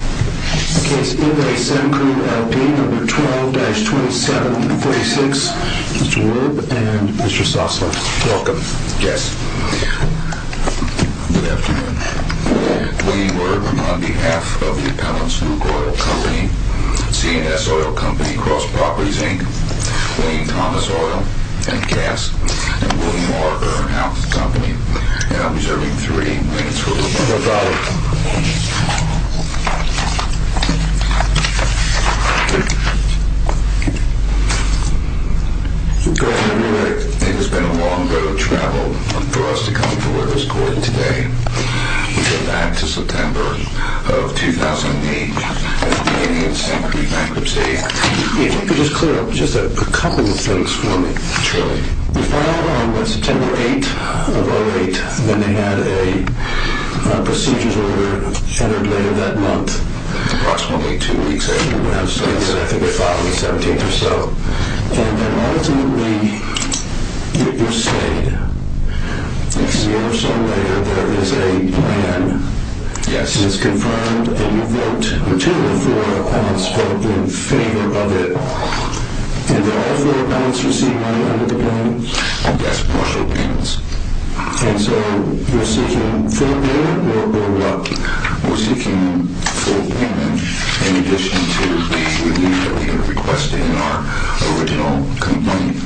A case in Re Semcrude, L.D. No. 12-2746, Mr. Werb and Mr. Sossler. Welcome. Yes. Good afternoon. Wayne Werb on behalf of the Appellant's Nuke Oil Company, CNS Oil Company, Cross Properties, Inc., Wayne Thomas Oil and Gas, and William R. Earnhouse Company. No problem. Thank you. Good afternoon. It has been a long road of travel for us to come to where it is going today. We go back to September of 2008 at the beginning of the Semcrude bankruptcy. If you could just clear up just a couple of things for me. Sure. The file was September 8th of 2008, and they had a procedures order entered later that month. Approximately two weeks later. I think they filed on the 17th or so. And ultimately, you've said, a year or so later, there is a plan. Yes. And it's confirmed, and you vote, the two of the four appellants vote in favor of it. Did all four appellants receive money under the plan? Yes, partial payments. And so, you're seeking full payment, or what? We're seeking full payment in addition to the relief that we had requested in our original complaint,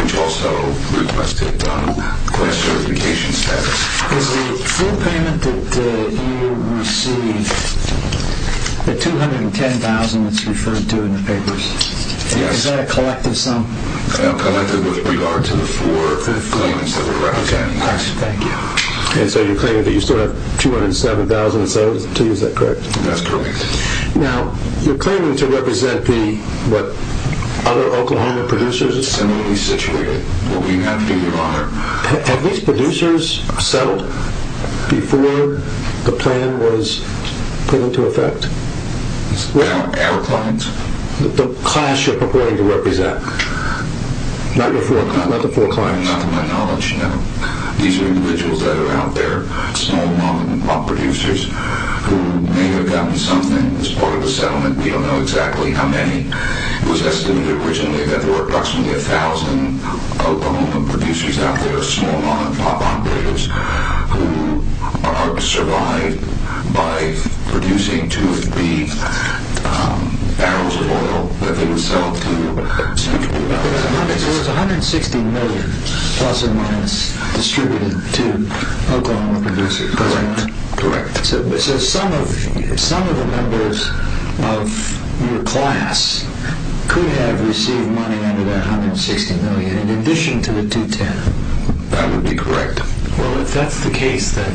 which also requested class certification status. Is the full payment that you received the $210,000 that's referred to in the papers? Yes. Is that a collective sum? Collective with regard to the four claims that we're representing. Okay, thank you. And so, you're claiming that you still have $207,000 to you, is that correct? That's correct. Now, you're claiming to represent the, what, other Oklahoma producers? Similarly situated. What we have, Your Honor. Have these producers settled before the plan was put into effect? Our clients? The class you're purporting to represent. Not the four clients. Not to my knowledge, no. These are individuals that are out there, small-moment producers, who may have gotten something as part of a settlement. We don't know exactly how many. It was estimated originally that there were approximately 1,000 Oklahoma producers out there, small-moment operators, who survived by producing two of the barrels of oil that they would sell to Central New Mexico. There was $160 million-plus or minus distributed to Oklahoma producers, correct? Correct. So some of the members of your class could have received money under that $160 million, in addition to the $210 million? That would be correct. Well, if that's the case, then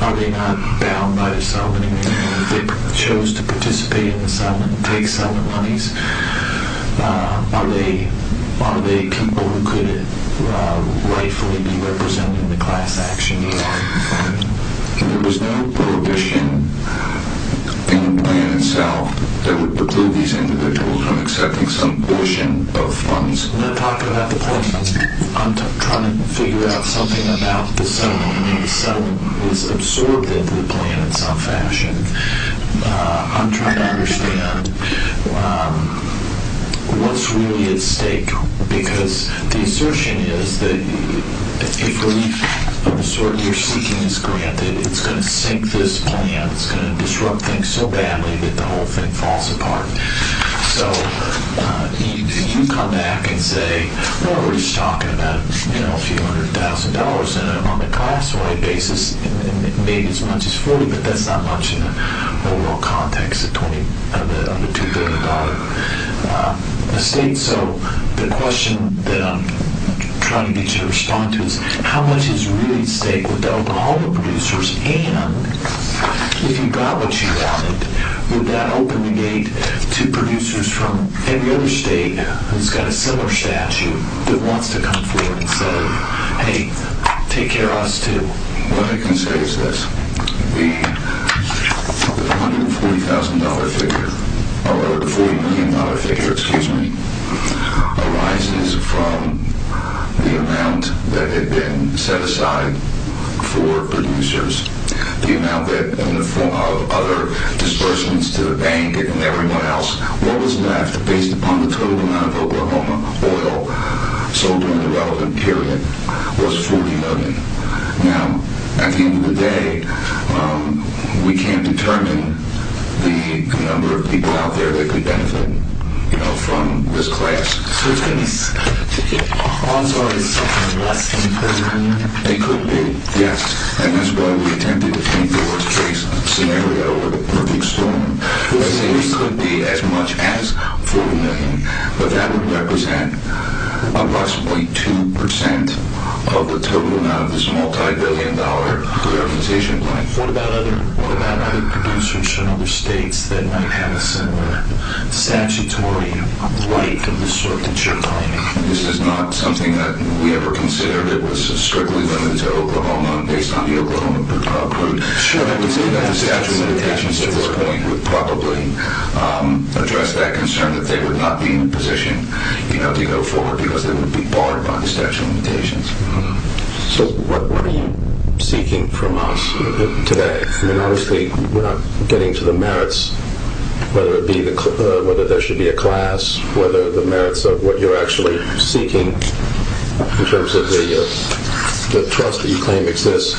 are they not bound by the settlement? If they chose to participate in the settlement, take settlement monies, are they people who could rightfully be represented in the class action? Your Honor. There was no prohibition in the plan itself that would preclude these individuals from accepting some portion of funds. When I talk about the plan, I'm trying to figure out something about the settlement. The settlement is absorbed into the plan in some fashion. I'm trying to understand what's really at stake, because the assertion is that if relief of the sort you're seeking is granted, it's going to sink this plan, it's going to disrupt things so badly that the whole thing falls apart. So you come back and say, we're already talking about a few hundred thousand dollars on a class-wide basis, maybe as much as 40, but that's not much in the overall context of the $2 billion estate. So the question that I'm trying to get you to respond to is, how much is really at stake with the alcohol producers? And if you got what you wanted, would that open the gate to producers from any other state who's got a similar statute that wants to come forward and say, hey, take care of us too? What I can say is this. The $40 million figure arises from the amount that had been set aside for producers. The amount that, in the form of other disbursements to the bank and everyone else, what was left, based upon the total amount of Oklahoma oil sold during the relevant period, was $40 million. Now, at the end of the day, we can't determine the number of people out there that could benefit from this class. So it's going to be something less than $40 million? It could be, yes. And that's why we attempted to paint the worst-case scenario with a perfect storm. It could be as much as $40 million, but that would represent approximately 2% of the total amount of this multibillion-dollar reorganization plan. What about other producers from other states that might have a similar statutory right of this sort that you're claiming? This is not something that we ever considered. It was strictly limited to Oklahoma, based on the Oklahoma approved. The statute of limitations at this point would probably address that concern, that they would not be in a position to go forward because they would be barred by the statute of limitations. So what are you seeking from us today? I mean, obviously, we're not getting to the merits, whether there should be a class, whether the merits of what you're actually seeking in terms of the trust that you claim exists.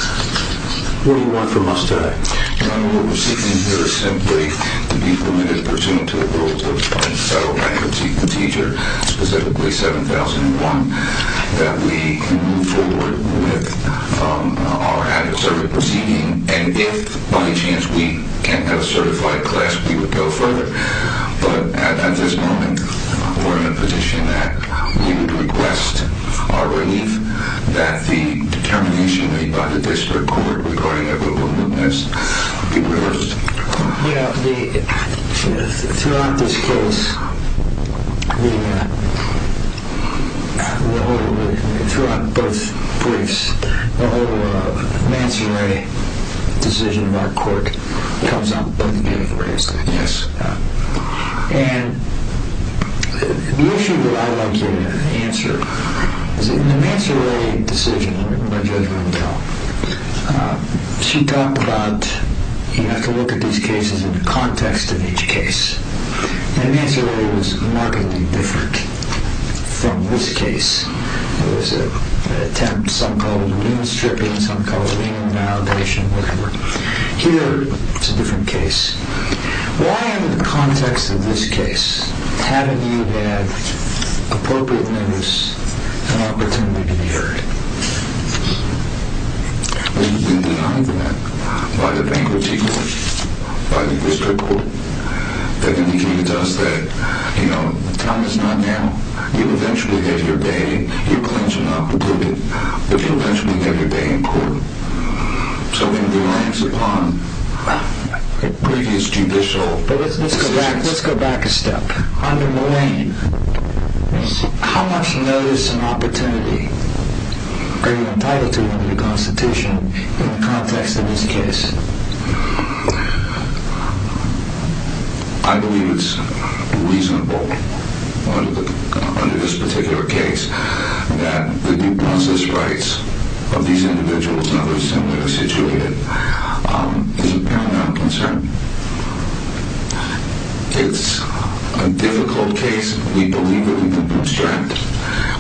What do you want from us today? What we're seeking here is simply to be permitted, pursuant to the rules of the federal bankruptcy procedure, specifically 7001, that we can move forward with our adversarial proceeding. And if, by any chance, we can't have a certified class, we would go further. But at this moment, we're in a position that we would request our relief, that the determination made by the district court regarding that would be reversed. Yeah, throughout this case, throughout both briefs, the whole mansuree decision of our court comes up both ways. Yes. And the issue that I'd like you to answer is in the mansuree decision, let me put my judgment on the top, she talked about you have to look at these cases in the context of each case. And the mansuree was markedly different from this case. It was an attempt, some call it lien stripping, some call it lien invalidation, whatever. Here, it's a different case. Why, in the context of this case, haven't you had appropriate notice and opportunity to be heard? We've been denied that by the bankruptcy court, by the district court. They've indicated to us that, you know, the time is not now. You'll eventually have your day. You'll clinch an opportunity, but you'll eventually have your day in court. So it relies upon previous judicial decisions. But let's go back a step. Under Mullane, how much notice and opportunity are you entitled to under the Constitution in the context of this case? I believe it's reasonable under this particular case that the due process rights of these individuals, however similar they're situated, is a paramount concern. It's a difficult case. We believe that we can bootstrap it.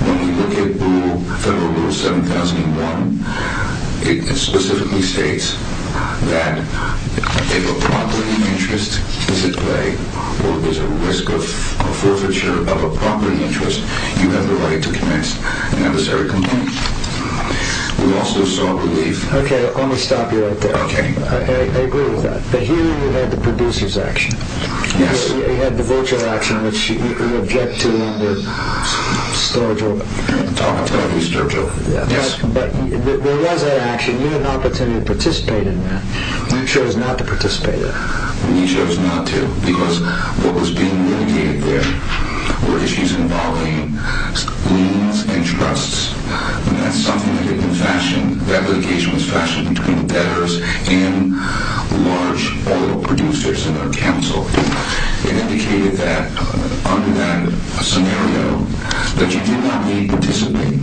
When we look at Federal Rule 7001, it specifically states that if a property interest is at play, or there's a risk of forfeiture of a property interest, you have the right to commence a necessary complaint. We also saw belief... Okay, let me stop you right there. Okay. I agree with that. But here you had the producer's action. Yes. You had the virtual action, which you object to under Sturgill. I object to Sturgill, yes. But there was that action. You had an opportunity to participate in that. You chose not to participate in that. We chose not to, because what was being indicated there were issues involving liens and trusts, and that's something that had been fashioned... The application was fashioned between debtors and large oil producers in our council. It indicated that, under that scenario, that you did not need to participate.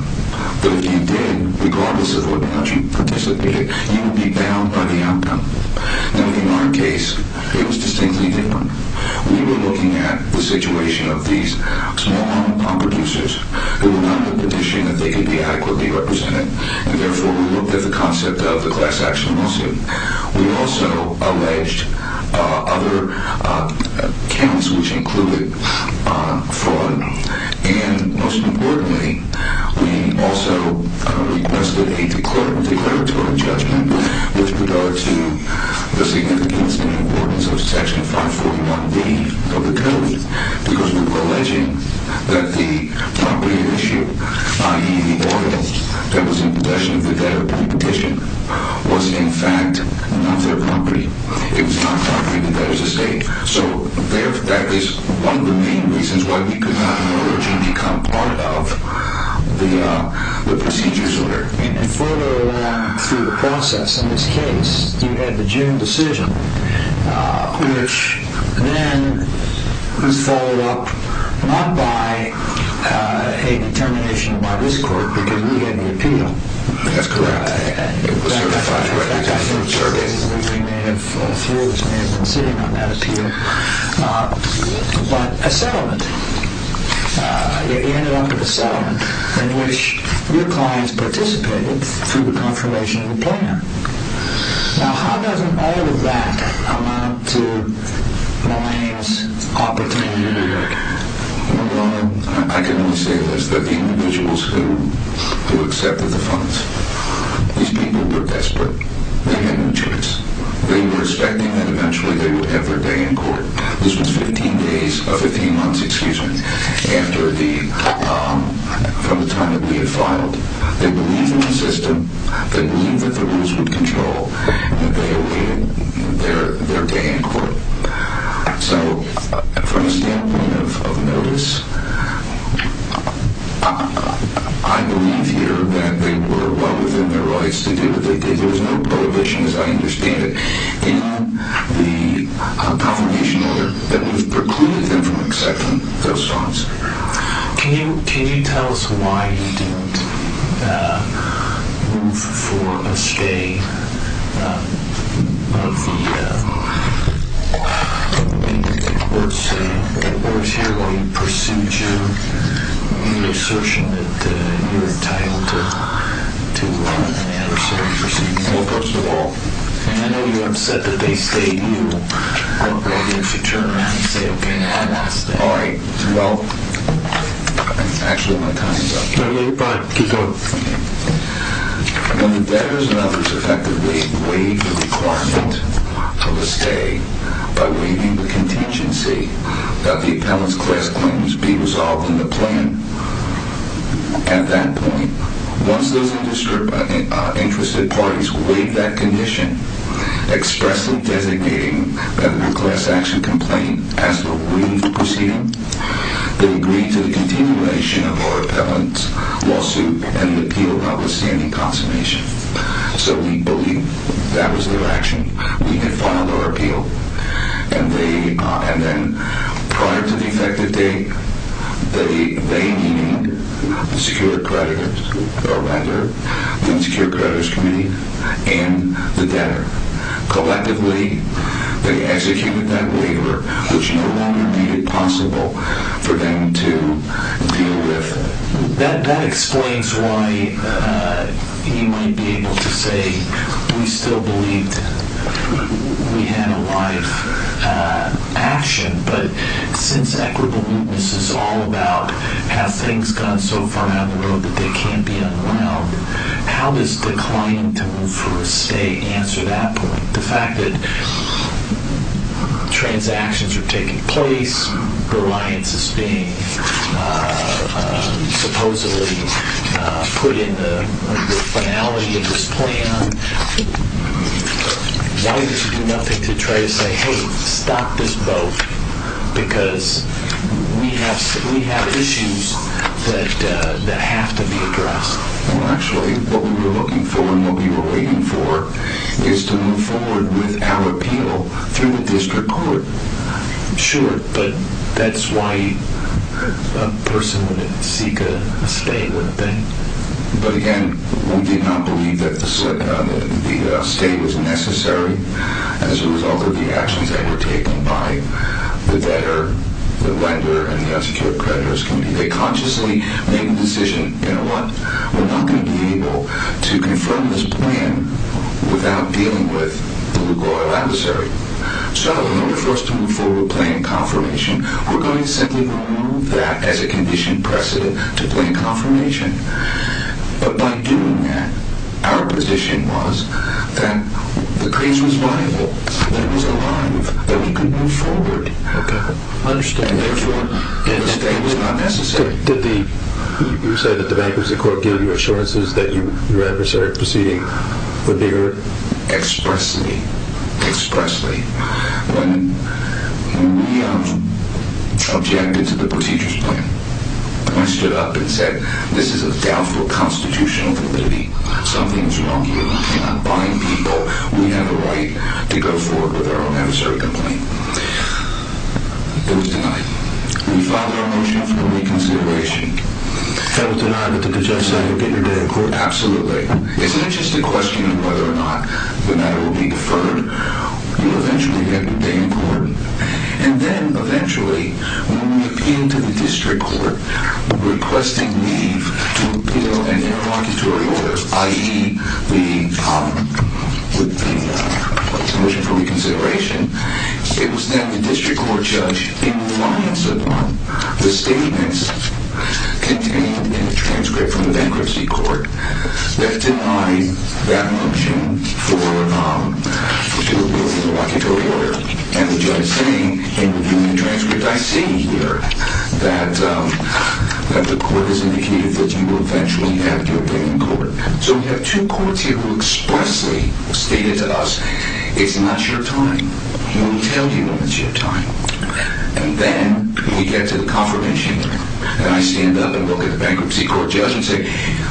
But if you did, regardless of whether or not you participated, you would be bound by the outcome. Now, in our case, it was distinctly different. We were looking at the situation of these small oil producers who were not in the position that they could be adequately represented, and therefore we looked at the concept of the class-action lawsuit. We also alleged other counts, which included fraud. And most importantly, we also requested a declaratory judgment with regard to the significance and importance of Section 541B of the Code, because we were alleging that the property at issue, i.e., the oil, that was in possession of the debtor by petition was, in fact, not their property. It was not property of the debtor's estate. So that is one of the main reasons why we could not emerge and become part of the procedures order. And further along through the process in this case, you had the June decision, which then was followed up not by a determination by this Court, because we had the appeal. That's correct. In fact, I think Sergey and Louie may have been sitting on that appeal. But a settlement. You ended up with a settlement in which your clients participated through the confirmation of the plan. Now, how does all of that amount to Millane's opportunity to work? Well, I can only say this, that the individuals who accepted the funds, these people were desperate. They had no choice. They were expecting that eventually they would have their day in court. This was 15 months after the time that we had filed. They believed in the system. They believed that the rules would control their day in court. So from a standpoint of notice, I believe here that they were well within their rights to do what they did. There was no prohibition, as I understand it. In the confirmation order that was precluded them from accepting those funds. Can you tell us why you didn't move for a stay? Was there a procedure, an assertion that you were entitled to have a certain procedure? Well, first of all... I know you're upset that they stayed. You weren't ready to turn around and say, okay, now I'm going to stay. All right. Well, actually my time is up. All right, bye. Keep going. When the debtors and others effectively waived the requirement of a stay by waiving the contingency that the appellant's class claims be resolved in the plan at that point, once those interested parties waived that condition, expressly designating that the class action complaint as the waived procedure, they agreed to the continuation of our appellant's lawsuit and the appeal notwithstanding consummation. So we believe that was their action. We had filed our appeal. And then prior to the effective date, they needed the Secure Creditors, or rather the Secure Creditors Committee and the debtor. Collectively, they executed that waiver, which no longer made it possible for them to deal with it. That explains why he might be able to say we still believed we had a live action. But since equitable mootness is all about how things have gone so far down the road that they can't be unwound, how does declining to move for a stay answer that point? The fact that transactions are taking place, reliance is being supposedly put in the finality of this plan, why does he do nothing to try to say, hey, stop this boat, because we have issues that have to be addressed? Well, actually, what we were looking for and what we were waiting for is to move forward with our appeal through the district court. Sure, but that's why a person would seek a stay, wouldn't they? But again, we did not believe that the stay was necessary as a result of the actions that were taken by the debtor, the lender, and the Secure Creditors Committee. They consciously made the decision, you know what? We're not going to be able to confirm this plan without dealing with the legal adversary. So in order for us to move forward with plain confirmation, we're going to simply remove that as a condition precedent to plain confirmation. But by doing that, our position was that the case was viable, that it was alive, that we could move forward. And therefore, a stay was not necessary. Did you say that the bankruptcy court gave you assurances that your adversary proceeding would be heard? Expressly, expressly. When we objected to the procedures plan, when we stood up and said this is a doubtful constitutional validity, something is wrong here, we cannot bind people, we have a right to go forward with our own adversary complaint, it was denied. We filed our motion for reconsideration. That was denied, but did the judge say, okay, you're dead? Absolutely. Isn't it just a question of whether or not the matter will be deferred? You'll eventually get your day in court. And then eventually, when we appealed to the district court requesting leave to appeal an interlocutory order, i.e. the motion for reconsideration, it was then the district court judge, in reliance upon the statements contained in the transcript from the bankruptcy court, that denied that motion for appeal of the interlocutory order. And the judge saying, in reviewing the transcript, I see here that the court has indicated that you will eventually have your day in court. So we have two courts here who expressly stated to us, it's not your time. We won't tell you when it's your time. And then we get to the confirmation hearing. And I stand up and look at the bankruptcy court judge and say,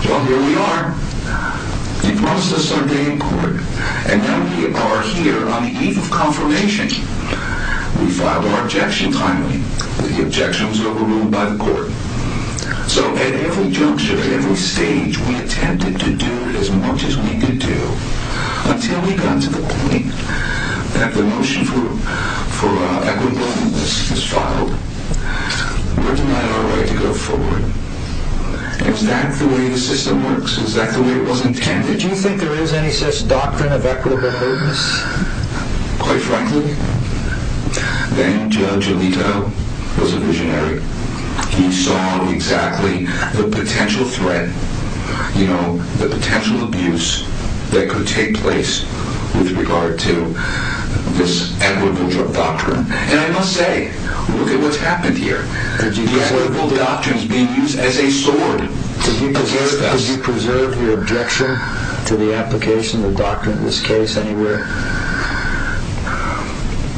well, here we are. You promised us our day in court. And now we are here on the eve of confirmation. We filed our objection timely. The objection was overruled by the court. So at every juncture, at every stage, we attempted to do as much as we could do, until we got to the point that the motion for equitableness was filed. We're denied our right to go forward. Is that the way the system works? Is that the way it was intended? Did you think there is any such doctrine of equitableness? Quite frankly, then Judge Alito was a visionary. He saw exactly the potential threat, you know, the potential abuse that could take place with regard to this equitable doctrine. And I must say, look at what's happened here. The equitable doctrine is being used as a sword against us. Did you preserve your objection to the application of the doctrine in this case anywhere?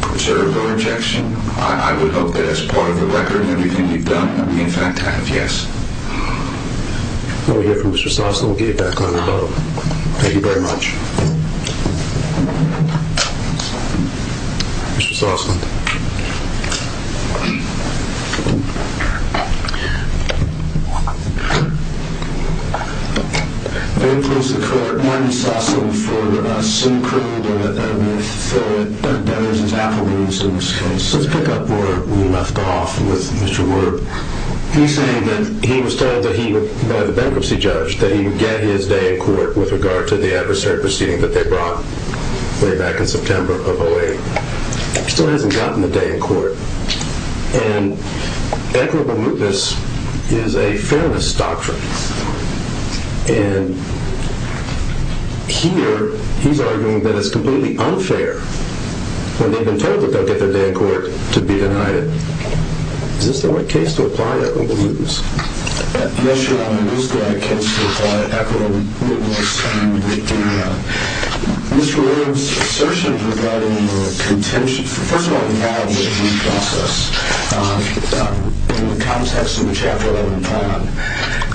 Preserve our objection? I would hope that as part of the record of everything you've done, we in fact have, yes. We'll hear from Mr. Sosslin. We'll get you back on the boat. Thank you very much. Mr. Sosslin. I'm going to close the court. I'm going to suss in for a senior criminal, and then we'll fill it. That was his affidavits in this case. Let's pick up where we left off with Mr. Werb. He's saying that he was told that he would, by the bankruptcy judge, that he would get his day in court with regard to the adversary proceeding that they brought way back in September of 08. He still hasn't gotten the day in court. And equitable mootness is a feminist doctrine. And here he's arguing that it's completely unfair when they've been told that they'll get their day in court to be denied it. Is this the right case to apply equitable mootness? Yes, Your Honor. It is the right case to apply equitable mootness. And Mr. Werb's assertion regarding the contention, first of all, involved with the process, in the context of the Chapter 11 plan.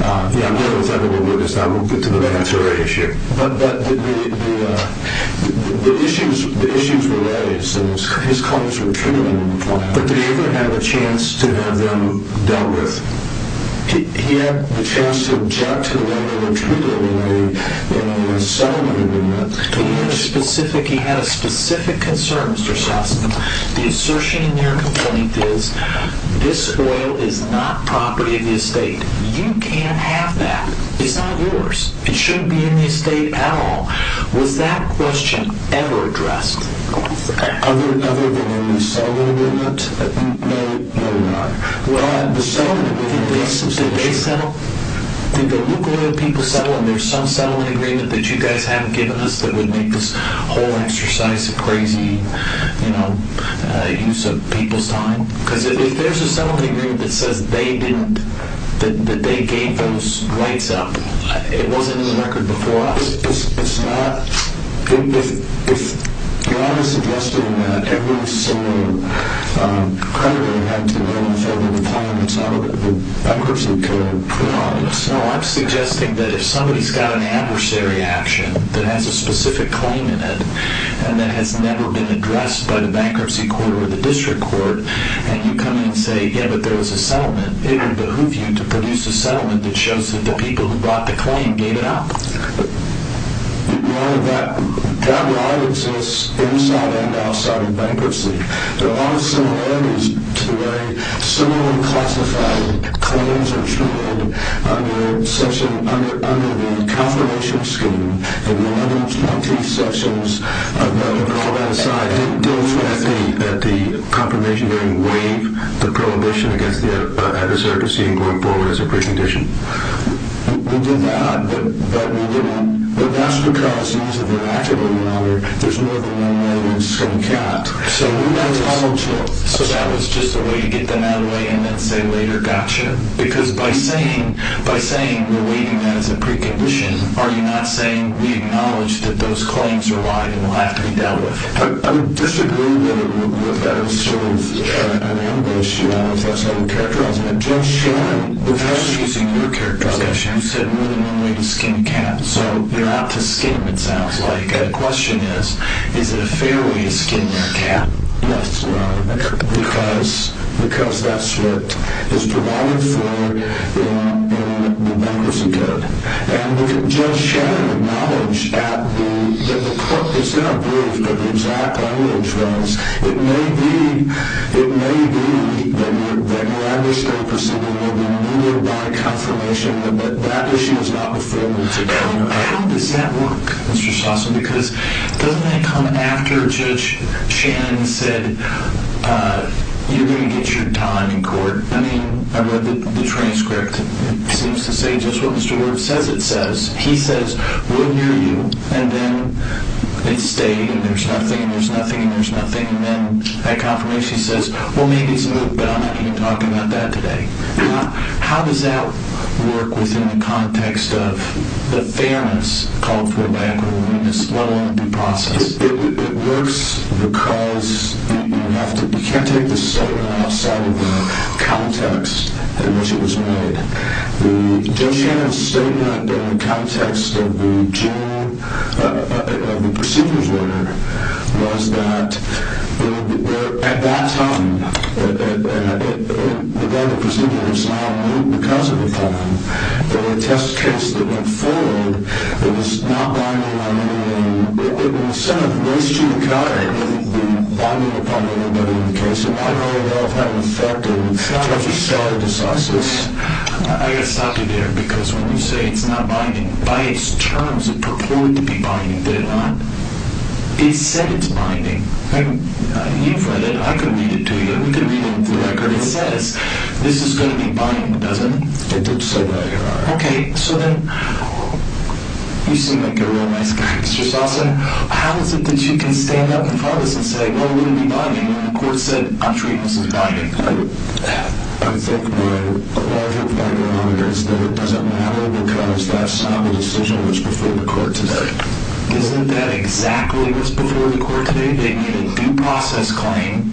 Yeah, I'm not going to tell you what it is now. We'll get to the bankruptcy issue. But the issues were raised, and his comments were true in the plan. But did he ever have a chance to have them dealt with? He had the chance to object to whatever treatment was made in the settlement agreement. He had a specific concern, Mr. Shostakovich. The assertion in your complaint is, this oil is not property of the estate. You can't have that. It's not yours. It shouldn't be in the estate at all. Was that question ever addressed? Other than in the settlement agreement? No, Your Honor. The settlement agreement, did they settle? Did the lukewarm people settle? And there's some settlement agreement that you guys haven't given us that would make this whole exercise a crazy use of people's time? Because if there's a settlement agreement that says they didn't, that they gave those rights up, it wasn't in the record before us. It's not. If Your Honor is suggesting that everyone is so credible in having to go through the requirements out of the bankruptcy code, put it on us. No, I'm suggesting that if somebody's got an adversary action that has a specific claim in it, and that has never been addressed by the bankruptcy court or the district court, and you come in and say, yeah, but there was a settlement, it would behoove you to produce a settlement that shows that the people who brought the claim gave it up. Your Honor, that lie exists inside and outside of bankruptcy. There are a lot of similarities to the way similarly classified claims are treated under the confirmation scheme. And all that aside, didn't those at the confirmation hearing waive the prohibition against the adversary proceeding going forward as a precondition? We did not, but we didn't. But that's because, as of the record, Your Honor, there's more than one way in which it's going to count. So that was just a way to get them out of the way and then say later, gotcha. Because by saying we're waiving that as a precondition, are you not saying we acknowledge that those claims are wide and will have to be dealt with? I would disagree with that as sort of an ambush, Your Honor, if that's how you characterize it. I'm just saying, without using your characterization, you said more than one way to skin a cat. So you're out to skin them, it sounds like. The question is, is it a fair way to skin your cat? Yes, Your Honor. Because that's what is provided for in the bankruptcy code. And Judge Shannon acknowledged that the court was not briefed on the exact language, but it may be that you're understated or something, and you were brought a confirmation, and that that issue is not before you today. How does that work, Mr. Chaucer? Because doesn't that come after Judge Shannon said, you're going to get your time in court? I mean, I read the transcript. It seems to say just what Mr. Worth says it says. He says, we'll hear you. And then it stayed, and there's nothing, and there's nothing, and there's nothing. And then that confirmation says, well, maybe it's moved, but I'm not going to talk about that today. How does that work within the context of the fairness called for by the court in this one-on-one due process? It works because you can't take the statement outside of the context in which it was made. Judge Shannon's statement in the context of the procedures order was that at that time, and I don't know whether the procedure was not moved because of a problem, but in the test case that went forward, it was not binding on anybody. It was set up based to the contrary. It would be binding upon everybody in the case. And I don't know if that affected Judge O'Sullivan's justice. I've got to stop you there, because when you say it's not binding, by its terms it purported to be binding. Did it not? It said it's binding. You've read it. I could read it to you. We could read it off the record. It says this is going to be binding, doesn't it? It did say that, Your Honor. Okay. So then you seem like a real nice guy, Mr. Salsa. How is it that you can stand up in front of us and say, well, it wouldn't be binding, when the court said, I'm sure it wasn't binding? I think when a lawyer finds out it's not, it doesn't matter because that's not the decision that was before the court today. Isn't that exactly what's before the court today? They made a due process claim.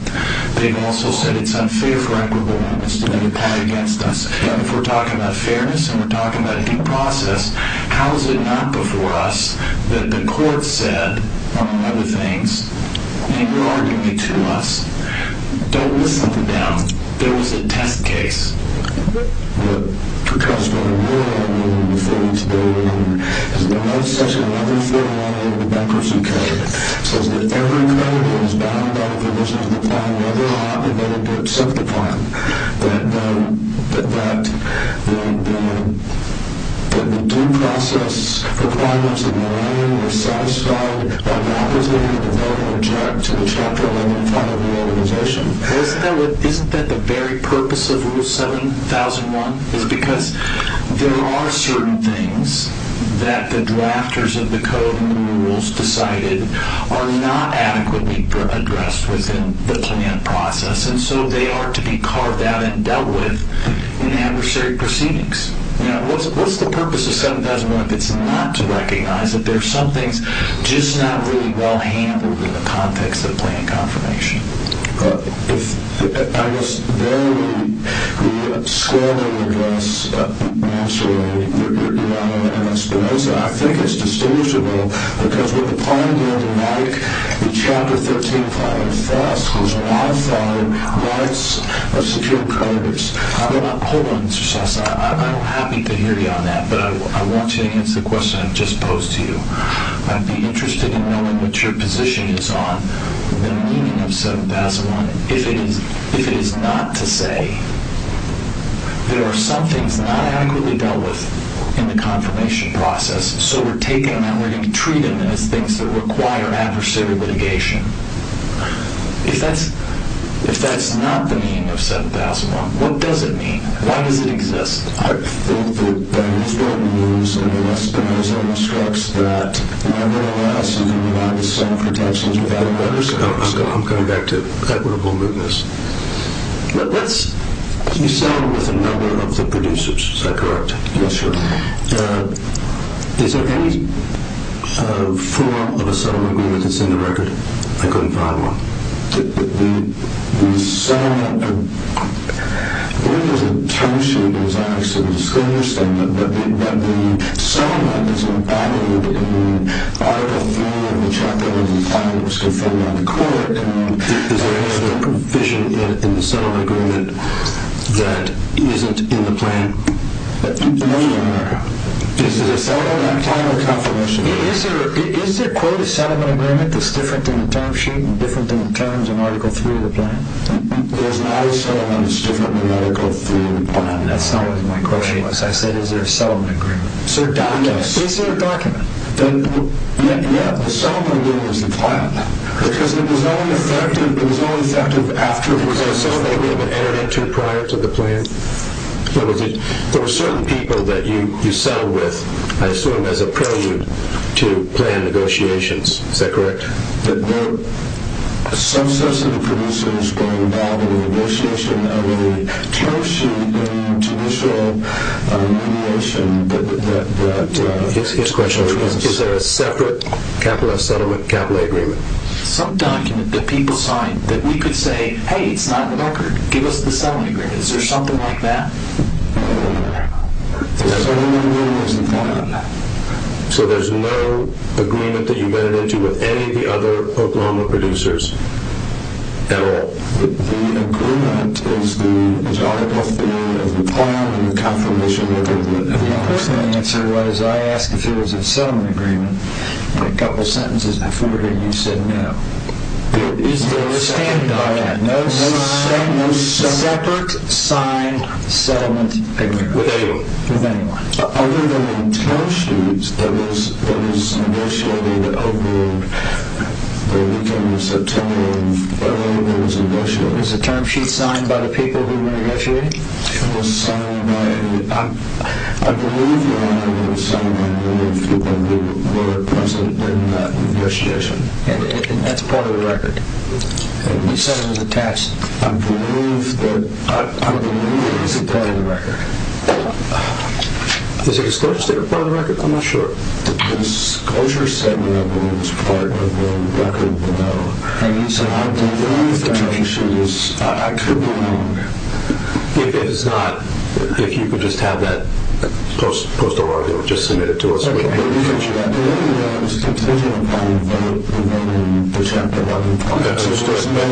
They've also said it's unfair for equitable justice to make a claim against us. But if we're talking about fairness and we're talking about due process, how is it not before us that the court said, among other things, and you're arguing it to us, don't list something down. There was a test case. Because what we're arguing before today is that under Section 1141A of the Bankers' UK, it says that every claim that is bound by the provision of the claim, whether or not the defendant did accept the claim, that the due process requirements in the claim were satisfied by the applicant and no object to the Chapter 11 claim of the organization. Isn't that the very purpose of Rule 7001? It's because there are certain things that the drafters of the code and the rules decided are not adequately addressed within the planned process, and so they are to be carved out and dealt with in adversary proceedings. What's the purpose of 7001 if it's not to recognize that there are some things just not really well handled in the context of planned confirmation? If I was there when you were scrolling the address, I think it's distinguishable, because what the plan did, like the Chapter 13 file in the first, was modify rights of secured creditors. Hold on, Mr. Sasse. I'm happy to hear you on that, but I want you to answer the question I've just posed to you. I'd be interested in knowing what your position is on the meaning of 7001 if it is not to say there are some things not adequately dealt with in the confirmation process, so we're taking them and we're going to treat them as things that require adversary litigation. If that's not the meaning of 7001, what does it mean? Why does it exist? I think that the news in the last couple of days almost reflects that, and I realize you can rely on the same pretensions with other letters. I'm coming back to equitable movements. You settled with a number of the producers. Is that correct? Yes, sir. Is there any form of a settlement agreement that's in the record? I couldn't find one. The settlement agreement is a term sheet, as I understand it, but the settlement is embedded in Article 3 of the Chapter 105 that was confirmed by the court. Is there any other provision in the settlement agreement that isn't in the plan? No, sir. Is there a settlement in the plan or confirmation? Is there, quote, a settlement agreement that's different than the term sheet and different than the terms in Article 3 of the plan? There's not a settlement that's different than Article 3 of the plan. That's not what my question was. I said is there a settlement agreement. Sir, document. Is there a document? Yeah, the settlement agreement is in the plan. Because it was only effective after the confirmation. Was there a settlement agreement entered into prior to the plan? There were certain people that you settled with, I assume, as a prelude to plan negotiations. Is that correct? There were some sets of approvals that were involved in the negotiation of a term sheet and judicial remediation. His question was, is there a separate settlement capital agreement? Some document that people signed that we could say, hey, it's not in the record. Give us the settlement agreement. Is there something like that? No. The settlement agreement is in the plan. So there's no agreement that you made it into with any of the other Oklahoma producers at all? The agreement is the Article 3 of the plan and the confirmation of the agreement. My first answer was I asked if there was a settlement agreement, and a couple of sentences before that you said no. Is there a separate document? No. No sign. No separate signed settlement agreement? With anyone? With anyone. Other than the term sheets that was negotiated over the weekend in September of early that was negotiated. Was the term sheet signed by the people who were negotiating? It was signed by a group of people who were present in that negotiation. And that's part of the record? We said it was attached. I believe that it is a part of the record. Is it a separate part of the record? I'm not sure. The disclosure settlement was part of the record below. And you said I believe the term sheet is... I could be wrong. If it is not, if you could just have that post-oral, just submit it to us. The only thing I was concerned about in the Chapter 11... Understood. What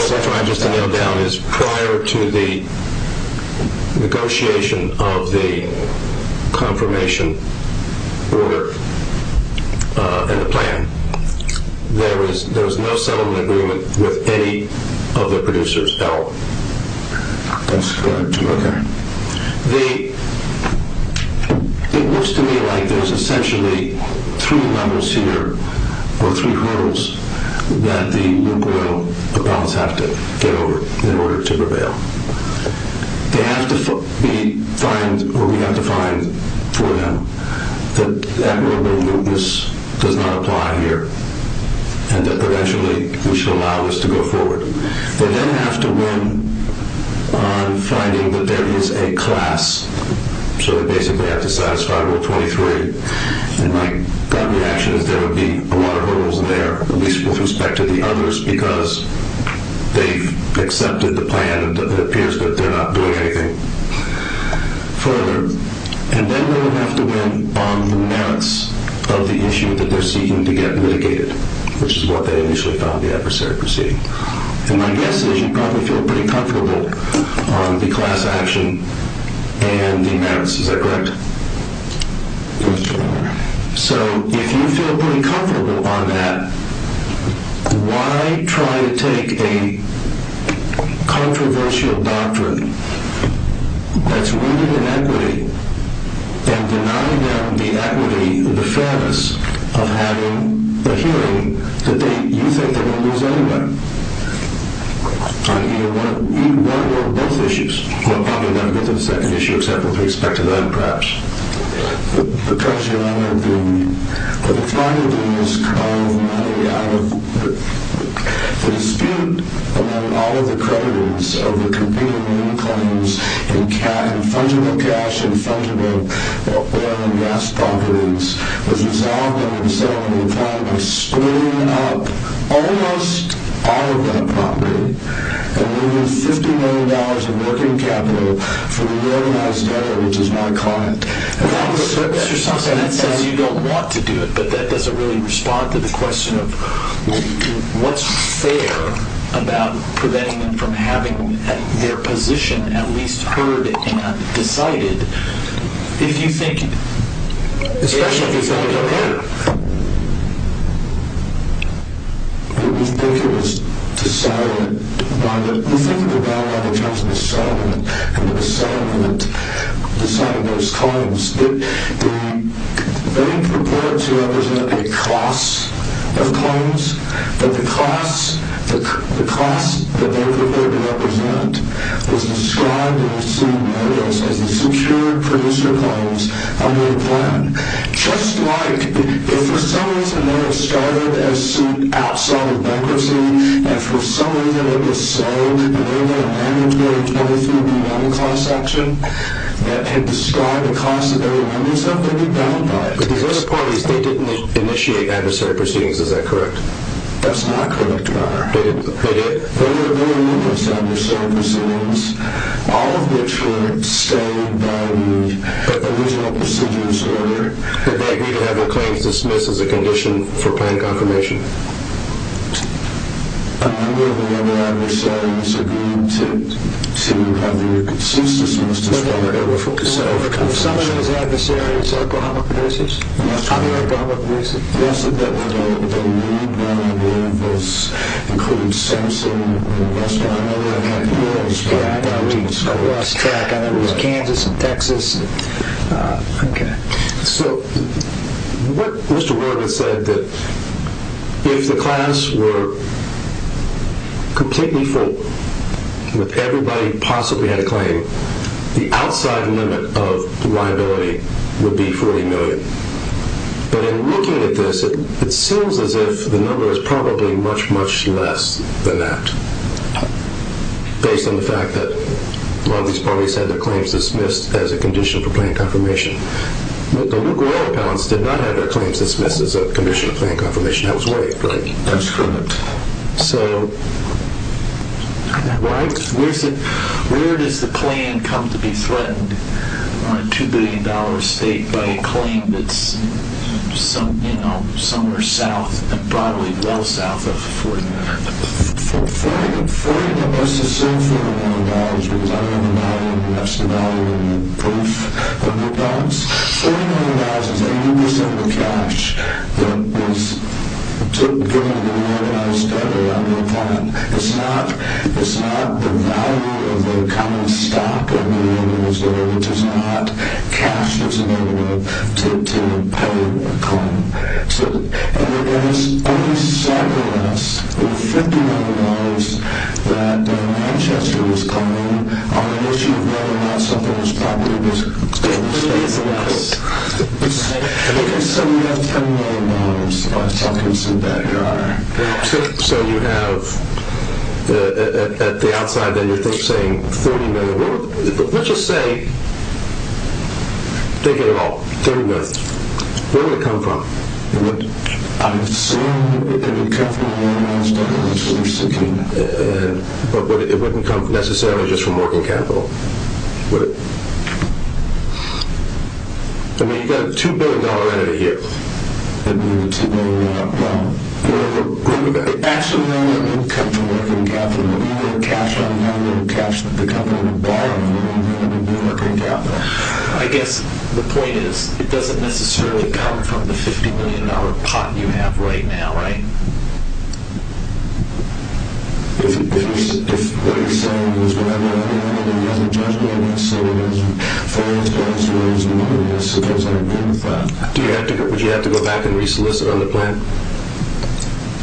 I'm trying to nail down is prior to the negotiation of the confirmation order and the plan, there was no settlement agreement with any of the producers held. That's correct. Okay. It looks to me like there's essentially three levels here, or three hurdles, that the nuclear weapons have to get over in order to prevail. They have to find, or we have to find for them, that that nuclear weapons does not apply here, and that eventually we should allow this to go forward. They then have to win on finding that there is a class. So they basically have to satisfy Rule 23. And my gut reaction is there would be a lot of hurdles there, at least with respect to the others, because they've accepted the plan. It appears that they're not doing anything further. And then they would have to win on the merits of the issue that they're seeking to get mitigated, which is what they initially found the adversary proceeding. And my guess is you probably feel pretty comfortable on the class action and the merits. Is that correct? That's correct. So if you feel pretty comfortable on that, why try to take a controversial doctrine that's rooted in equity and deny them the equity, the fairness of having a hearing that you think they're going to lose anyway, on either one or both issues? Well, probably never going to get to the second issue except with respect to that, perhaps. Because, you know, the final thing is carve money out of the dispute among all of the creditors over competing loan claims and fungible cash and fungible oil and gas properties, which is all going to settle on the plan of splitting it up almost out of that property and leaving $50 million of working capital for the reorganized debtor, which is my client. Mr. Simpson, that says you don't want to do it, but that doesn't really respond to the question of what's fair about preventing them from having their position at least heard and decided. If you think— Especially if it's not a debtor. If you think it was decided by the— If you think about it when it comes to the settlement and the settlement deciding those claims, they purport to represent a class of claims, but the class that they purport to represent was described in the suit notice as the secured producer claims under the plan. Just like if for some reason they were started as suit outside of bankruptcy, and for some reason it was sold, they were able to manage those under the remittance clause section that had described the class that they were remittance of, they would be bound by it. But these other parties, they didn't initiate adversary proceedings. Is that correct? That's not correct, Your Honor. They didn't? There were numerous adversary proceedings, all of which were stated by the original procedures order. Did they agree to have their claims dismissed as a condition for planned confirmation? None of the other adversaries agreed to have their claims dismissed as part of a condition for planned confirmation. Were some of those adversaries Oklahoma producers? Yes, Your Honor. Other Oklahoma producers? Yes, Your Honor. The lead one, I believe, was including Simpson, and the rest of them, I know that I haven't been able to spot. Yeah, I know. I lost track. I know it was Kansas and Texas. Okay. So what Mr. Warden said, that if the class were completely full with everybody who possibly had a claim, the outside limit of liability would be $40 million. But in looking at this, it seems as if the number is probably much, much less than that, based on the fact that a lot of these parties had their claims dismissed as a condition for planned confirmation. The Lukerola appellants did not have their claims dismissed as a condition for planned confirmation. That was waived, right? That was waived. So where does the claim come to be threatened on a $2 billion estate by a claim that's somewhere south, broadly well south of $40 million? $40 million is still $40 million, because I don't have the value of the rest of the value of the proof. $40 million is 80% of the cash that was given to me when I started on the appellant. It's not the value of the common stock of the individual, which is not cash that's available to pay a claim. And there was only something less than $50 million that Manchester was claiming on the issue of whether or not something was property-based. $50 million less. You can sell me that $10 million by talking to some bad guy. So you have, at the outside, then you're saying $30 million. Let's just say, think of it all, $30 million. Where would it come from? I'm assuming it would come from where I started on the solution. But it wouldn't come necessarily just from working capital, would it? I mean, you've got a $2 billion entity here. It would be $2 billion. It actually wouldn't come from working capital. It would be the cash that the company would buy, and it would be working capital. I guess the point is it doesn't necessarily come from the $50 million pot you have right now, right? Would you have to go back and re-solicit on the plan?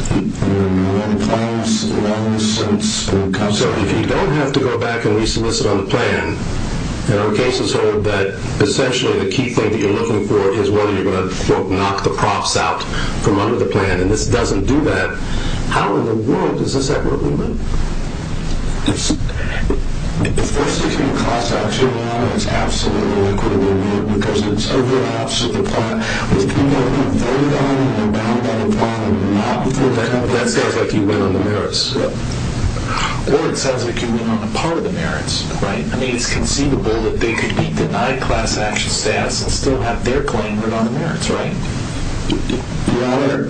We haven't had a plan in a long time. So if you don't have to go back and re-solicit on the plan, and our cases hold that essentially the key thing that you're looking for is whether you're going to knock the props out from under the plan, and this doesn't do that, how in the world does this ever really work? If this doesn't cost us $2 million, it's absolutely liquidated, because it overlaps with the plan. With people who have voted on it and are bound by the plan and have not voted on it... That sounds like you went on the merits. Or it sounds like you went on a part of the merits, right? I mean, it's conceivable that they could be denied class action status and still have their claim written on the merits, right? You know what?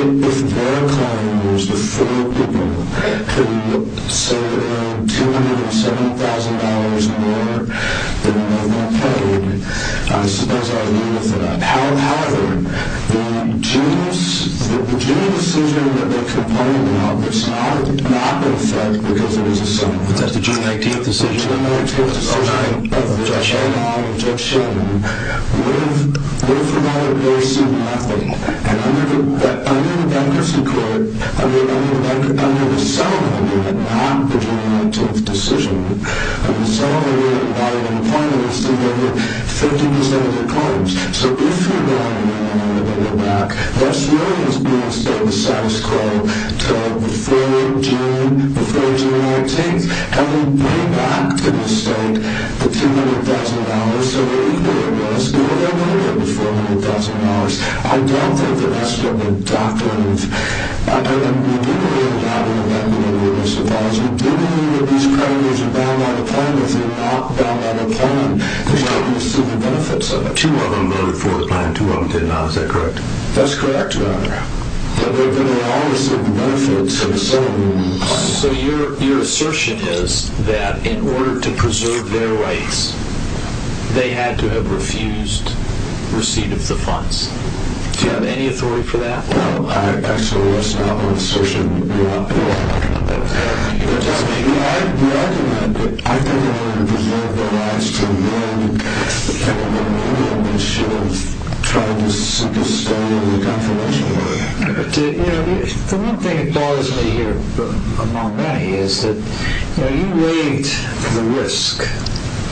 If their claim was with four people, could we get somewhere around $207,000 more than what we're paid? I suppose I agree with that. However, the June decision that they complained about was not in effect, because it was a June 19th decision. The June 19th decision of Judge Sheldon would have provided very similar effect. And under the bankruptcy court, under the settlement under the non-June 19th decision, under the settlement under the non-June 19th decision, 50% of the claims. So, if you're going to go back, that's really what's being said in the status quo, that before June 19th, having went back to the state, the $200,000, the $800,000, the $400,000, I don't think that that's what we're talking about. I don't think we did really have an amendment under this clause. We did believe that these claims were bound by the plan. If they're not bound by the plan, there's got to be some benefits of it. Two of them voted for the plan. Two of them did not. Is that correct? That's correct, Your Honor. But they're going to all receive the benefits of the settlement under the plan. So, your assertion is that in order to preserve their rights, they had to have refused receipt of the funds. Do you have any authority for that? Well, actually, that's not my assertion, Your Honor. But, I mean, I recommend that I think in order to preserve their rights, to amend the plan, we should have tried to simply stay in the conference room. You know, the one thing that bothers me here, among many, is that you weighed the risk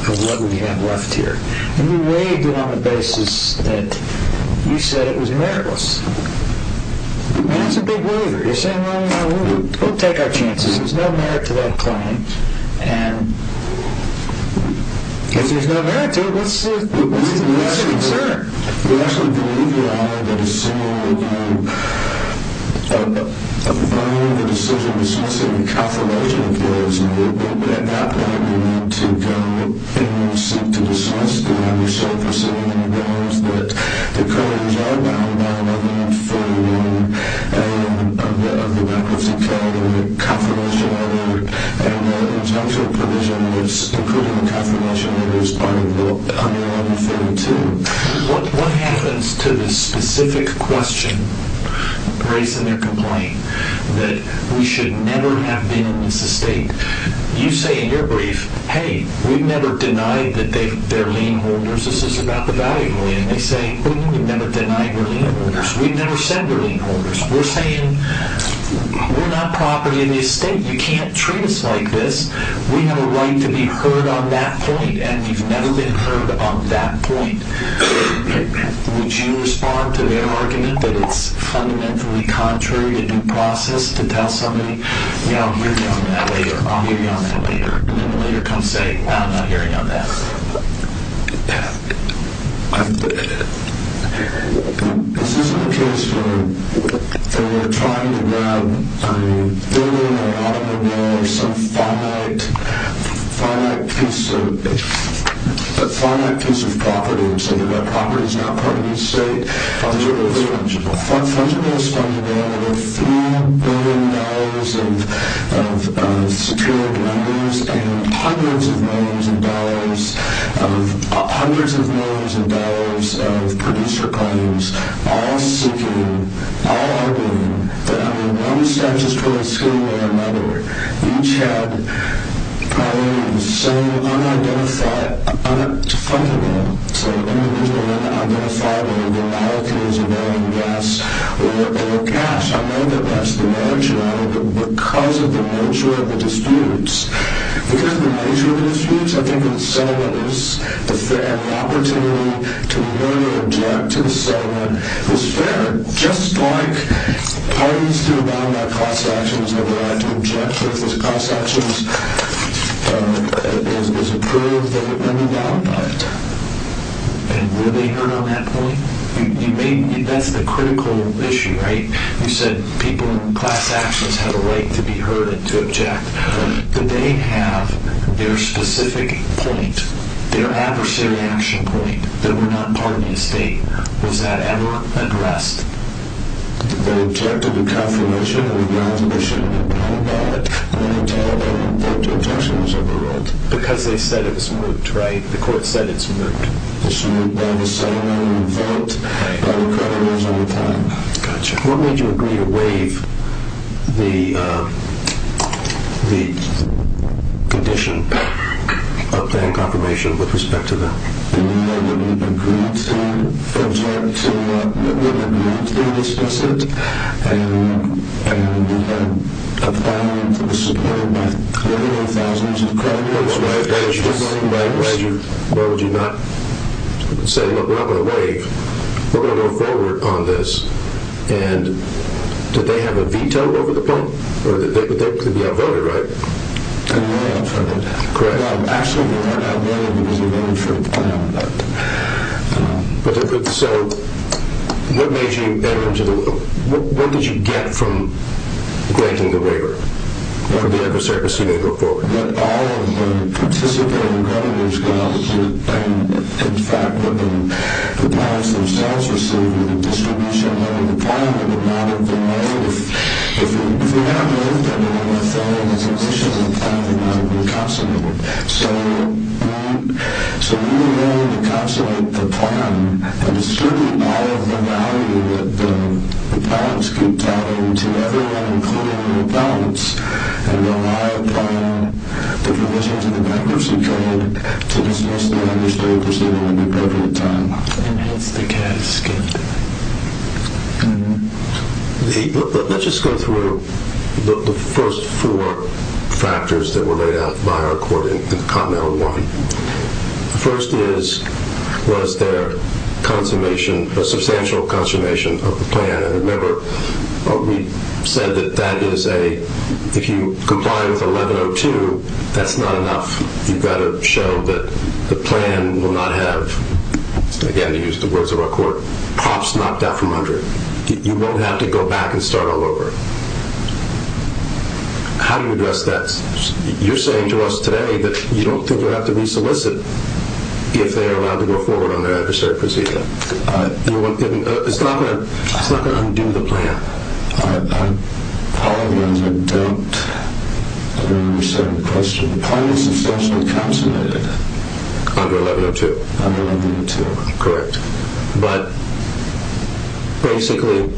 of what we have left here. And you weighed it on the basis that you said it was meritless. I mean, that's a big waiver. You're saying, well, you know, we'll take our chances. There's no merit to that claim. And if there's no merit to it, what's the concern? We actually believe, Your Honor, that assuming that you find the decision to dismiss the reconfirmation of yours, would that not allow you not to go and seek to dismiss the other self-assertion in the grounds that the covenants are bound by Article 41 of the bankruptcy code and the confirmation are valid. And that in terms of provision, including the confirmation, it is under Article 42. What happens to the specific question raised in their complaint that we should never have been in this estate? You say in your brief, hey, we've never denied that they're lien holders. This is about the value claim. They say, well, you've never denied we're lien holders. We've never said we're lien holders. We're saying we're not property of the estate. You can't treat us like this. We have a right to be heard on that point, and we've never been heard on that point. Would you respond to their argument that it's fundamentally contrary to due process to tell somebody, you know, I'll hear you on that later, I'll hear you on that later, and then later come say, no, I'm not hearing on that. This isn't a case where they're trying to grab a billion or an automobile or some finite piece of property and say that that property is not part of the estate. Fungible is fungible. There are over $3 billion of secured landers and hundreds of millions of dollars of producer claims, all seeking, all arguing that under one statute towards whom or another, each had claims. So unidentified fungible, so individual unidentifiable, or cash, I know that that's the marginality, but because of the nature of the disputes, because of the nature of the disputes, I think that the settlement is a fair opportunity to really object to the settlement. It's fair, just like parties to a bound by class actions have the right to object to those class actions. It is approved that it may be bound by it. And were they heard on that point? That's the critical issue, right? You said people in class actions have a right to be heard and to object. Did they have their specific point, their adversary action point, that were not part of the estate? Was that ever addressed? Because they said it was moot, right? The court said it's moot. Gotcha. What made you agree to waive the condition of paying confirmation with respect to that? We agreed to, from time to time, we had a moot in this case, and we had a bond that was supported by clearly thousands of creditors. That's right. Why would you not say, look, we're not going to waive. We're going to go forward on this. And did they have a veto over the point? They could be outvoted, right? They were outvoted. Correct. Actually, they weren't outvoted because we voted for a plan on that. So what did you get from granting the waiver? From the adversary proceeding to go forward? That all of the participating creditors got what they paid. In fact, the bonds themselves received with the distribution of the plan would not have been moot. If we had moot, then it would have fallen into the position of the plan that would not have been consolidated. So we were able to consolidate the plan and distribute all of the value that the bonds could tell to everyone, including the bonds, and rely upon the provisions of the bankruptcy code to dismiss the adversary proceeding at the appropriate time. And hence the casket. Let's just go through the first four factors that were laid out by our court in the common element one. The first was their consummation, a substantial consummation of the plan. And remember, we said that that is a, if you comply with 1102, that's not enough. You've got to show that the plan will not have, again, to use the words of our court, props knocked out from under it. You won't have to go back and start all over. How do you address that? You're saying to us today that you don't think you'll have to re-solicit if they are allowed to go forward on their adversary proceeding. It's not going to undo the plan. However, I don't understand the question. The plan is substantially consolidated. Under 1102. Under 1102, correct. But basically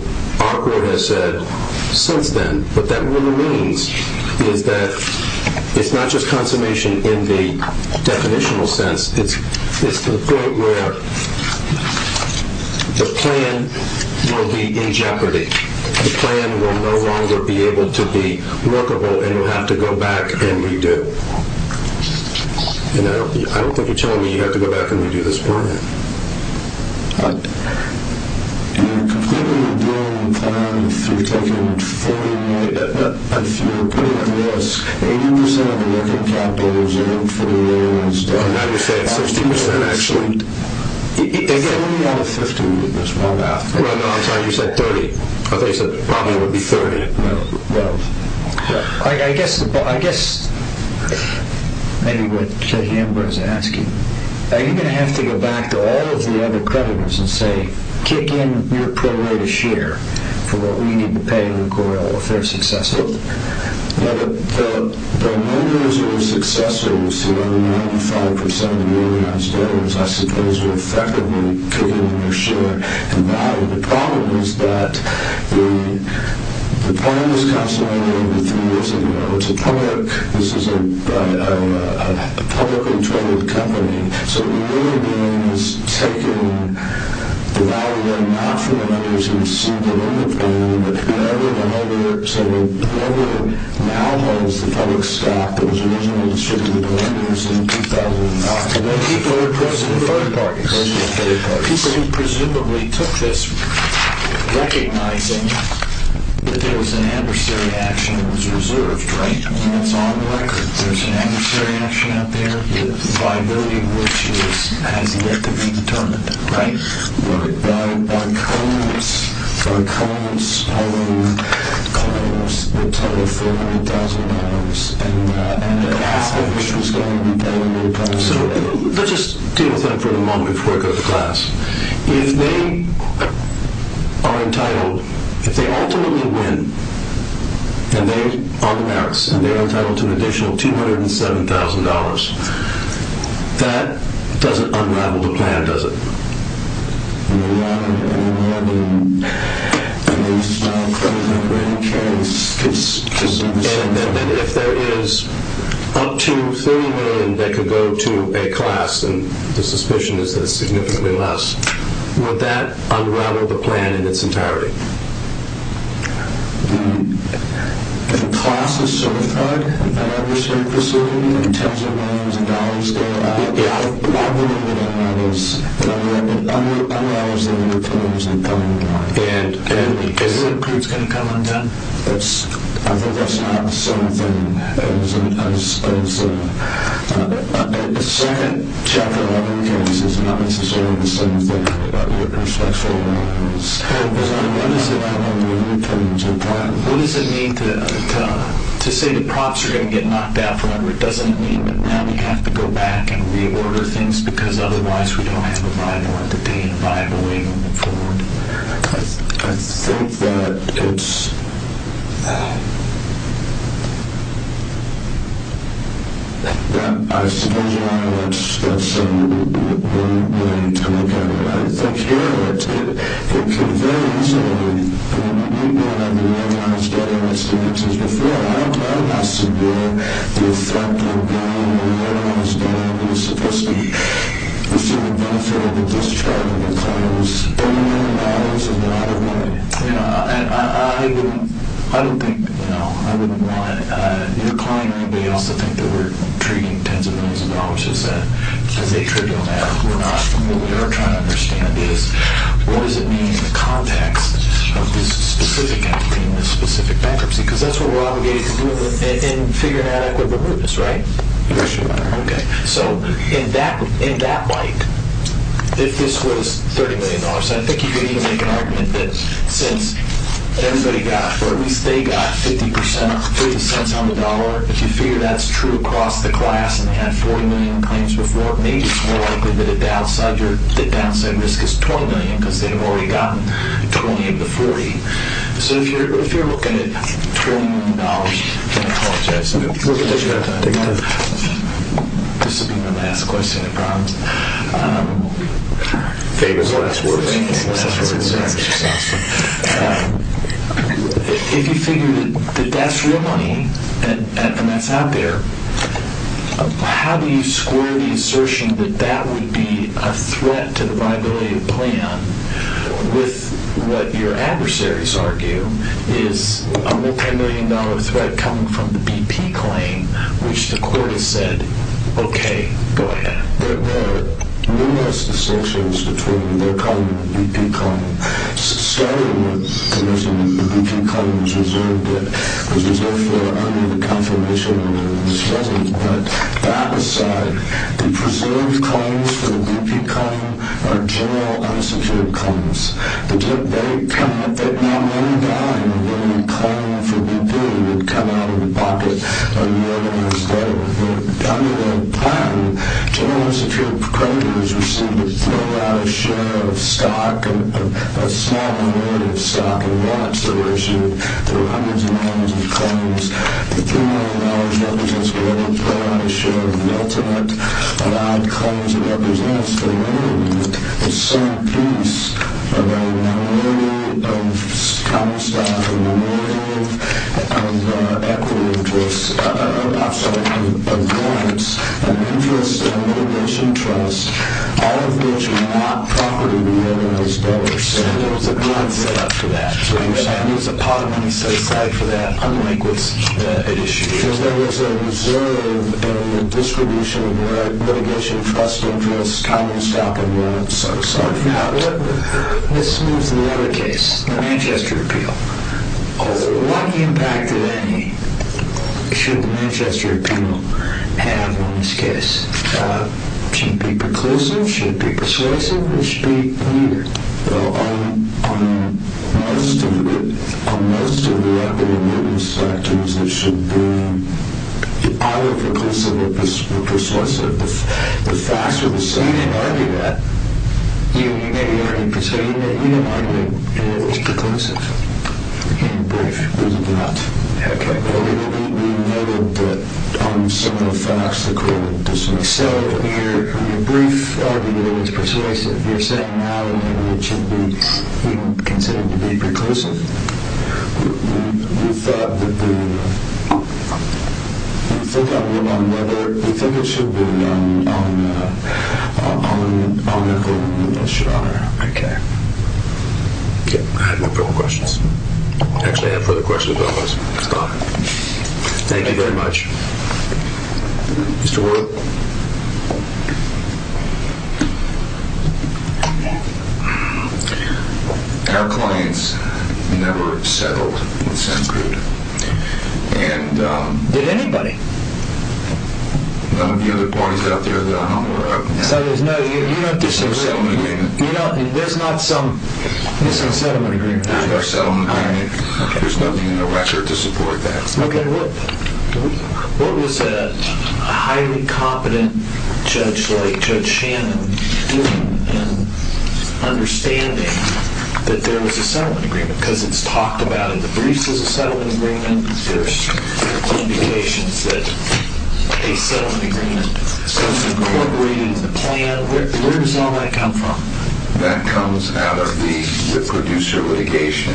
our court has said since then what that really means is that it's not just consummation in the definitional sense. It's to the point where the plan will be in jeopardy. The plan will no longer be able to be workable and you'll have to go back and redo. I don't think you're telling me you have to go back and redo this plan. You're completely doing the plan if you're putting at risk 80% of American capital reserved for the U.S. Now you're saying 60% actually. 30 out of 50. No, I'm sorry, you said 30. I thought you said probably it would be 30. Well, I guess maybe what J. Ambrose is asking, are you going to have to go back to all of the other creditors and say kick in your prorated share for what we need to pay Lucor Oil if they're successful? The loaners or successors who own 95% of the organized debtors, I suppose, will effectively kick in their share. The problem is that the plan was consolidated over three years ago. It's a public, this is a publicly traded company. So what we're doing is taking the value then not from the lenders who received the loan at the time, but whoever now holds the public stock that was originally distributed to lenders in 2009. And then people who presumably took this recognizing that there was an adversary action that was reserved, right, and that's on record. There's an adversary action out there, the viability of which has yet to be determined, right? Right. So let's just deal with that for the moment before I go to class. If they are entitled, if they ultimately win and they are the merits and they are entitled to an additional $207,000, that doesn't unravel the plan, does it? No. And then if there is up to $30 million that could go to a class, and the suspicion is that it's significantly less, would that unravel the plan in its entirety? If the class is certified, in terms of dollars there, yeah, I believe it unravels. And is it going to come undone? I think that's not the same thing. The second chapter of the case is not necessarily the same thing with respect to the loans. What does it mean to say the props are going to get knocked out forever? It doesn't mean that now we have to go back and reorder things because otherwise we don't have a viable entertainment, a viable way to move forward? I think that it's... I suppose that's a weird way to look at it. I think here it conveys... I don't think... I wouldn't want your client or anybody else to think that we're treating tens of millions of dollars as a trivial matter. What we're not, what we are trying to understand is what does it mean in the context of this specific act, in this specific bankruptcy? Because that's what we're obligated to do in figuring out equitable mootness, right? So in that light, if this was $30 million, I think you could even make an argument that since everybody got, or at least they got 50 cents on the dollar, if you figure that's true across the class and they had 40 million claims before, maybe it's more likely that the downside risk is 20 million because they've already gotten 20 of the 40. So if you're looking at $20 million... I'm going to apologize. This will be my last question, I promise. If you figure that that's real money and that's out there, how do you square the assertion that that would be a threat to the viability of the plan with what your adversaries argue is a multimillion-dollar threat coming from the BP claim, which the court has said, okay, go ahead. But that aside, the presumed claims for the BP claim are general unsecured claims. They cannot... General unsecured creditors receive a fair amount of share of stock, a small amount of stock, and watch the ratio. There are hundreds and hundreds of claims. The $20 million represents a fair amount of share of the ultimate. A lot of claims represents the minimum, the sum piece of a minimum of stock, a minimum of equity of choice, a maximum of clients, an interest, a motivation, trust, all of which are not property of the M&A's dollars. So there's a pot set up for that. So you're saying there's a pot of money set aside for that, unlike what's at issue here? Because there is a reserve and a distribution of right, litigation, trust, interest, common stock, and what not. Now, let's move to the other case, the Manchester Appeal. What impact did any... should the Manchester Appeal have on this case? Should it be preclusive, should it be persuasive, or should it be clear? Well, on most of the... on most of the equity and minimum sectors, it should be either preclusive or persuasive. The facts are the same. You didn't argue that. You may argue that. So you didn't argue that it was preclusive and brief. We did not. Okay. We noted that on some of the facts, So in your brief argument, it was persuasive. You're saying now that it should be considered to be preclusive. We thought that the... We thought it should be on the... Okay. I have no further questions. Actually, I have further questions, but I'll stop. Thank you very much. Mr. Worth. Our clients never settled with Sencrude. And... Did anybody? None of the other parties out there that I'm aware of. So there's no... You don't disagree. There's no settlement agreement. There's not some settlement agreement. There's no settlement agreement. There's nothing in the record to support that. Okay. What was a highly competent judge like Judge Shannon doing in understanding that there was a settlement agreement? Because it's talked about in the briefs as a settlement agreement. There's indications that a settlement agreement was incorporated in the plan. Where does all that come from? That comes out of the producer litigation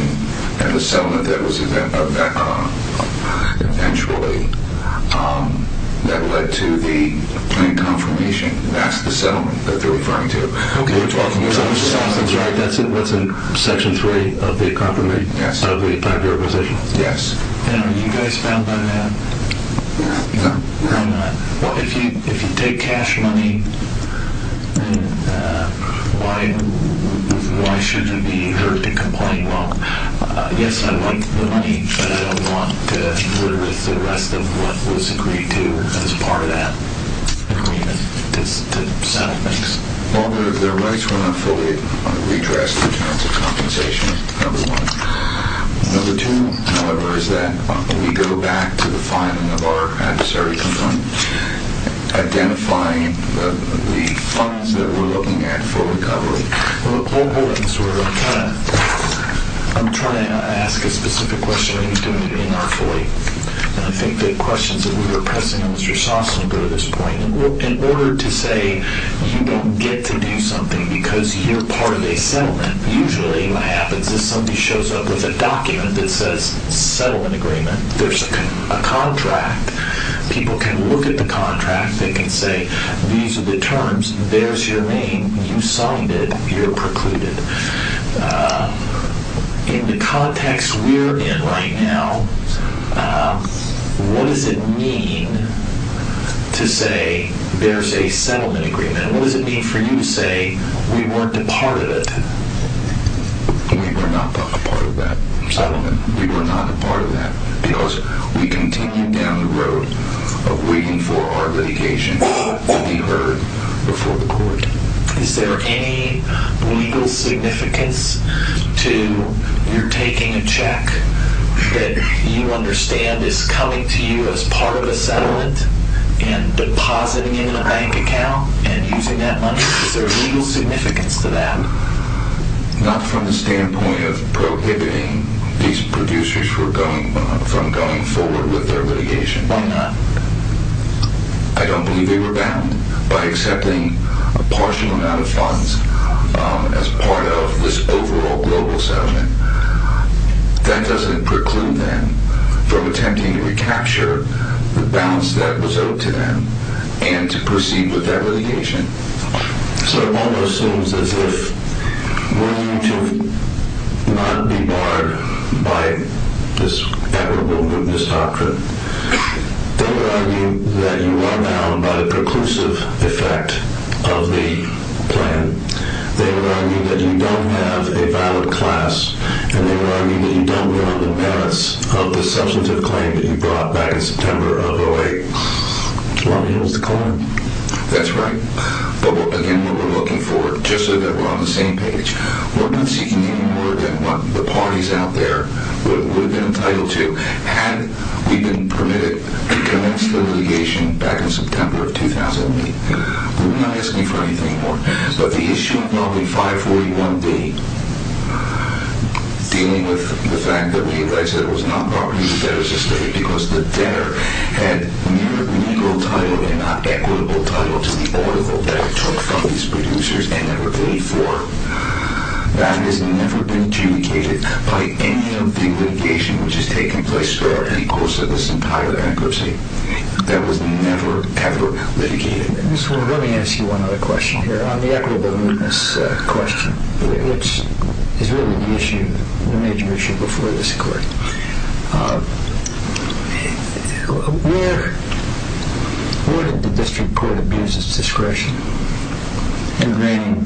and the settlement that was eventually that led to the plan confirmation. That's the settlement that they're referring to. Okay. So the settlement's right. That's what's in Section 3 of the 5-year requisition. Yes. And are you guys found on that? No. Why not? If you take cash money, why shouldn't you be heard to complain? Well, yes, I like the money, but I don't want to interfere with the rest of what was agreed to as part of that agreement to settle things. Well, their rights were not fully redressed in terms of compensation, number one. Number two, however, is that we go back to the filing of our adversary complaint, identifying the funds that we're looking at for recovery. Well, hold on. I'm trying to ask a specific question, and you're doing it inartfully. And I think the questions that we were pressing on Mr. Shawson go to this point. In order to say you don't get to do something because you're part of a settlement, usually what happens is somebody shows up with a document that says settlement agreement. There's a contract. People can look at the contract. They can say these are the terms. There's your name. You signed it. You're precluded. In the context we're in right now, what does it mean to say there's a settlement agreement? What does it mean for you to say we weren't a part of it? We were not a part of that settlement. We were not a part of that because we continued down the road of waiting for our litigation to be heard before the court. Is there any legal significance to your taking a check that you understand is coming to you as part of a settlement and depositing it in a bank account and using that money? Is there legal significance to that? Not from the standpoint of prohibiting these producers from going forward with their litigation. Why not? I don't believe they were bound by accepting a partial amount of funds as part of this overall global settlement. That doesn't preclude them from attempting to recapture the balance that was owed to them and to proceed with their litigation. So it almost seems as if were you to not be barred by this equitable movement, this doctrine, they would argue that you are bound by the preclusive effect of the plan. They would argue that you don't have a valid class. And they would argue that you don't go under the merits of the substantive claim that you brought back in September of 2008. Well, here's the claim. That's right. But again, what we're looking for, just so that we're on the same page, we're not seeking any more than what the parties out there would have been entitled to had we been permitted to commence the litigation back in September of 2008. We're not asking for anything more. But the issue involving 541B, dealing with the fact that we alleged that it was not property that was estimated because the debtor had mere legal title and not equitable title to the audible debt it took from these producers and never paid for. That has never been adjudicated by any of the litigation which has taken place throughout the course of this entire bankruptcy. That was never, ever litigated. Let me ask you one other question here on the equitable movements question, which is really the issue, the major issue before this court. Where did the district court abuse its discretion in reigning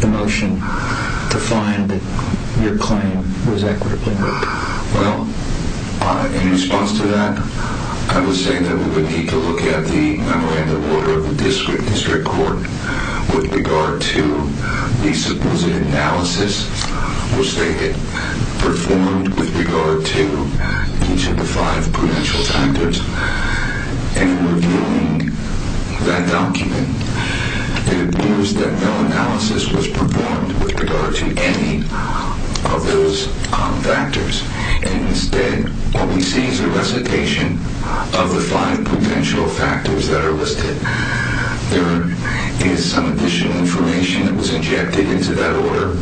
the motion to find that your claim was equitably moved? Well, in response to that, I would say that we would need to look at the manner with regard to the supposed analysis which they had performed with regard to each of the five potential factors. In reviewing that document, it appears that no analysis was performed with regard to any of those factors. Instead, what we see is a recitation of the five potential factors that are listed. There is some additional information that was injected into that order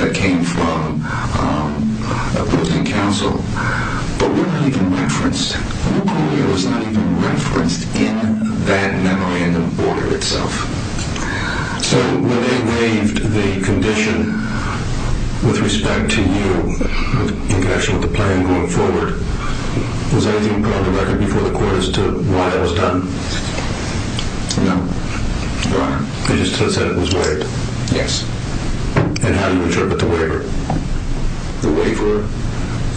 that came from opposing counsel, but we're not even referenced. It was not even referenced in that memorandum order itself. So when they waived the condition with respect to you, in connection with the plan going forward, was anything brought to record before the court as to why it was done? No. They just said it was waived? Yes. And how do you interpret the waiver? The waiver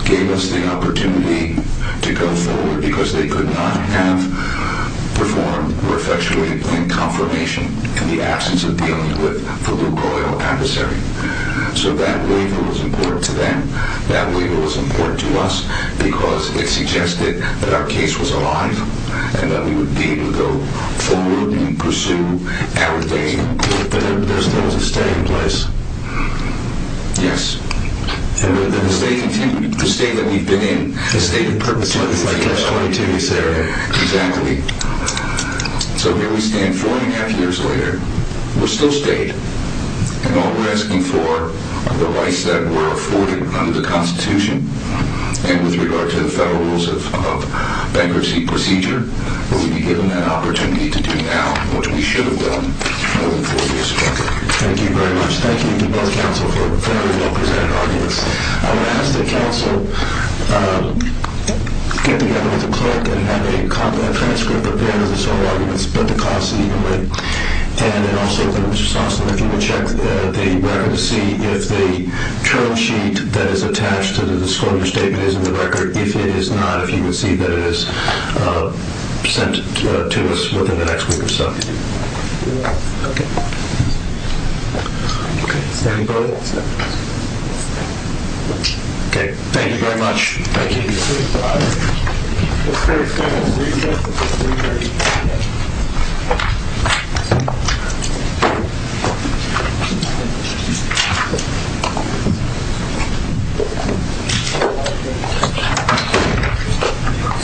gave us the opportunity to go forward because they could not have performed or effectuated plain confirmation in the absence of dealing with the luke oil adversary. So that waiver was important to them. That waiver was important to us because it suggested that our case was alive and that we would be able to go forward and pursue our case. So there was a stay in place? Yes. And the state that we've been in, the state of Purdue is there. Exactly. So here we stand four and a half years later. We're still stayed. And all we're asking for are the rights that were afforded under the Constitution and with regard to the Federal Rules of Bankruptcy Procedure. Will we be given that opportunity to do now, which we should have done four years ago? Thank you very much. Thank you to both counsel for a very well-presented argument. I'm going to ask that counsel get together with the clerk and have a transcript of both of those arguments, but the clause in either way. And also, Mr. Sossin, if you would check the record to see if the term sheet that is attached to the disclosure statement is in the record. If it is not, if you would see that it is sent to us within the next week or so. Okay. Thank you very much. Thank you. Thank you.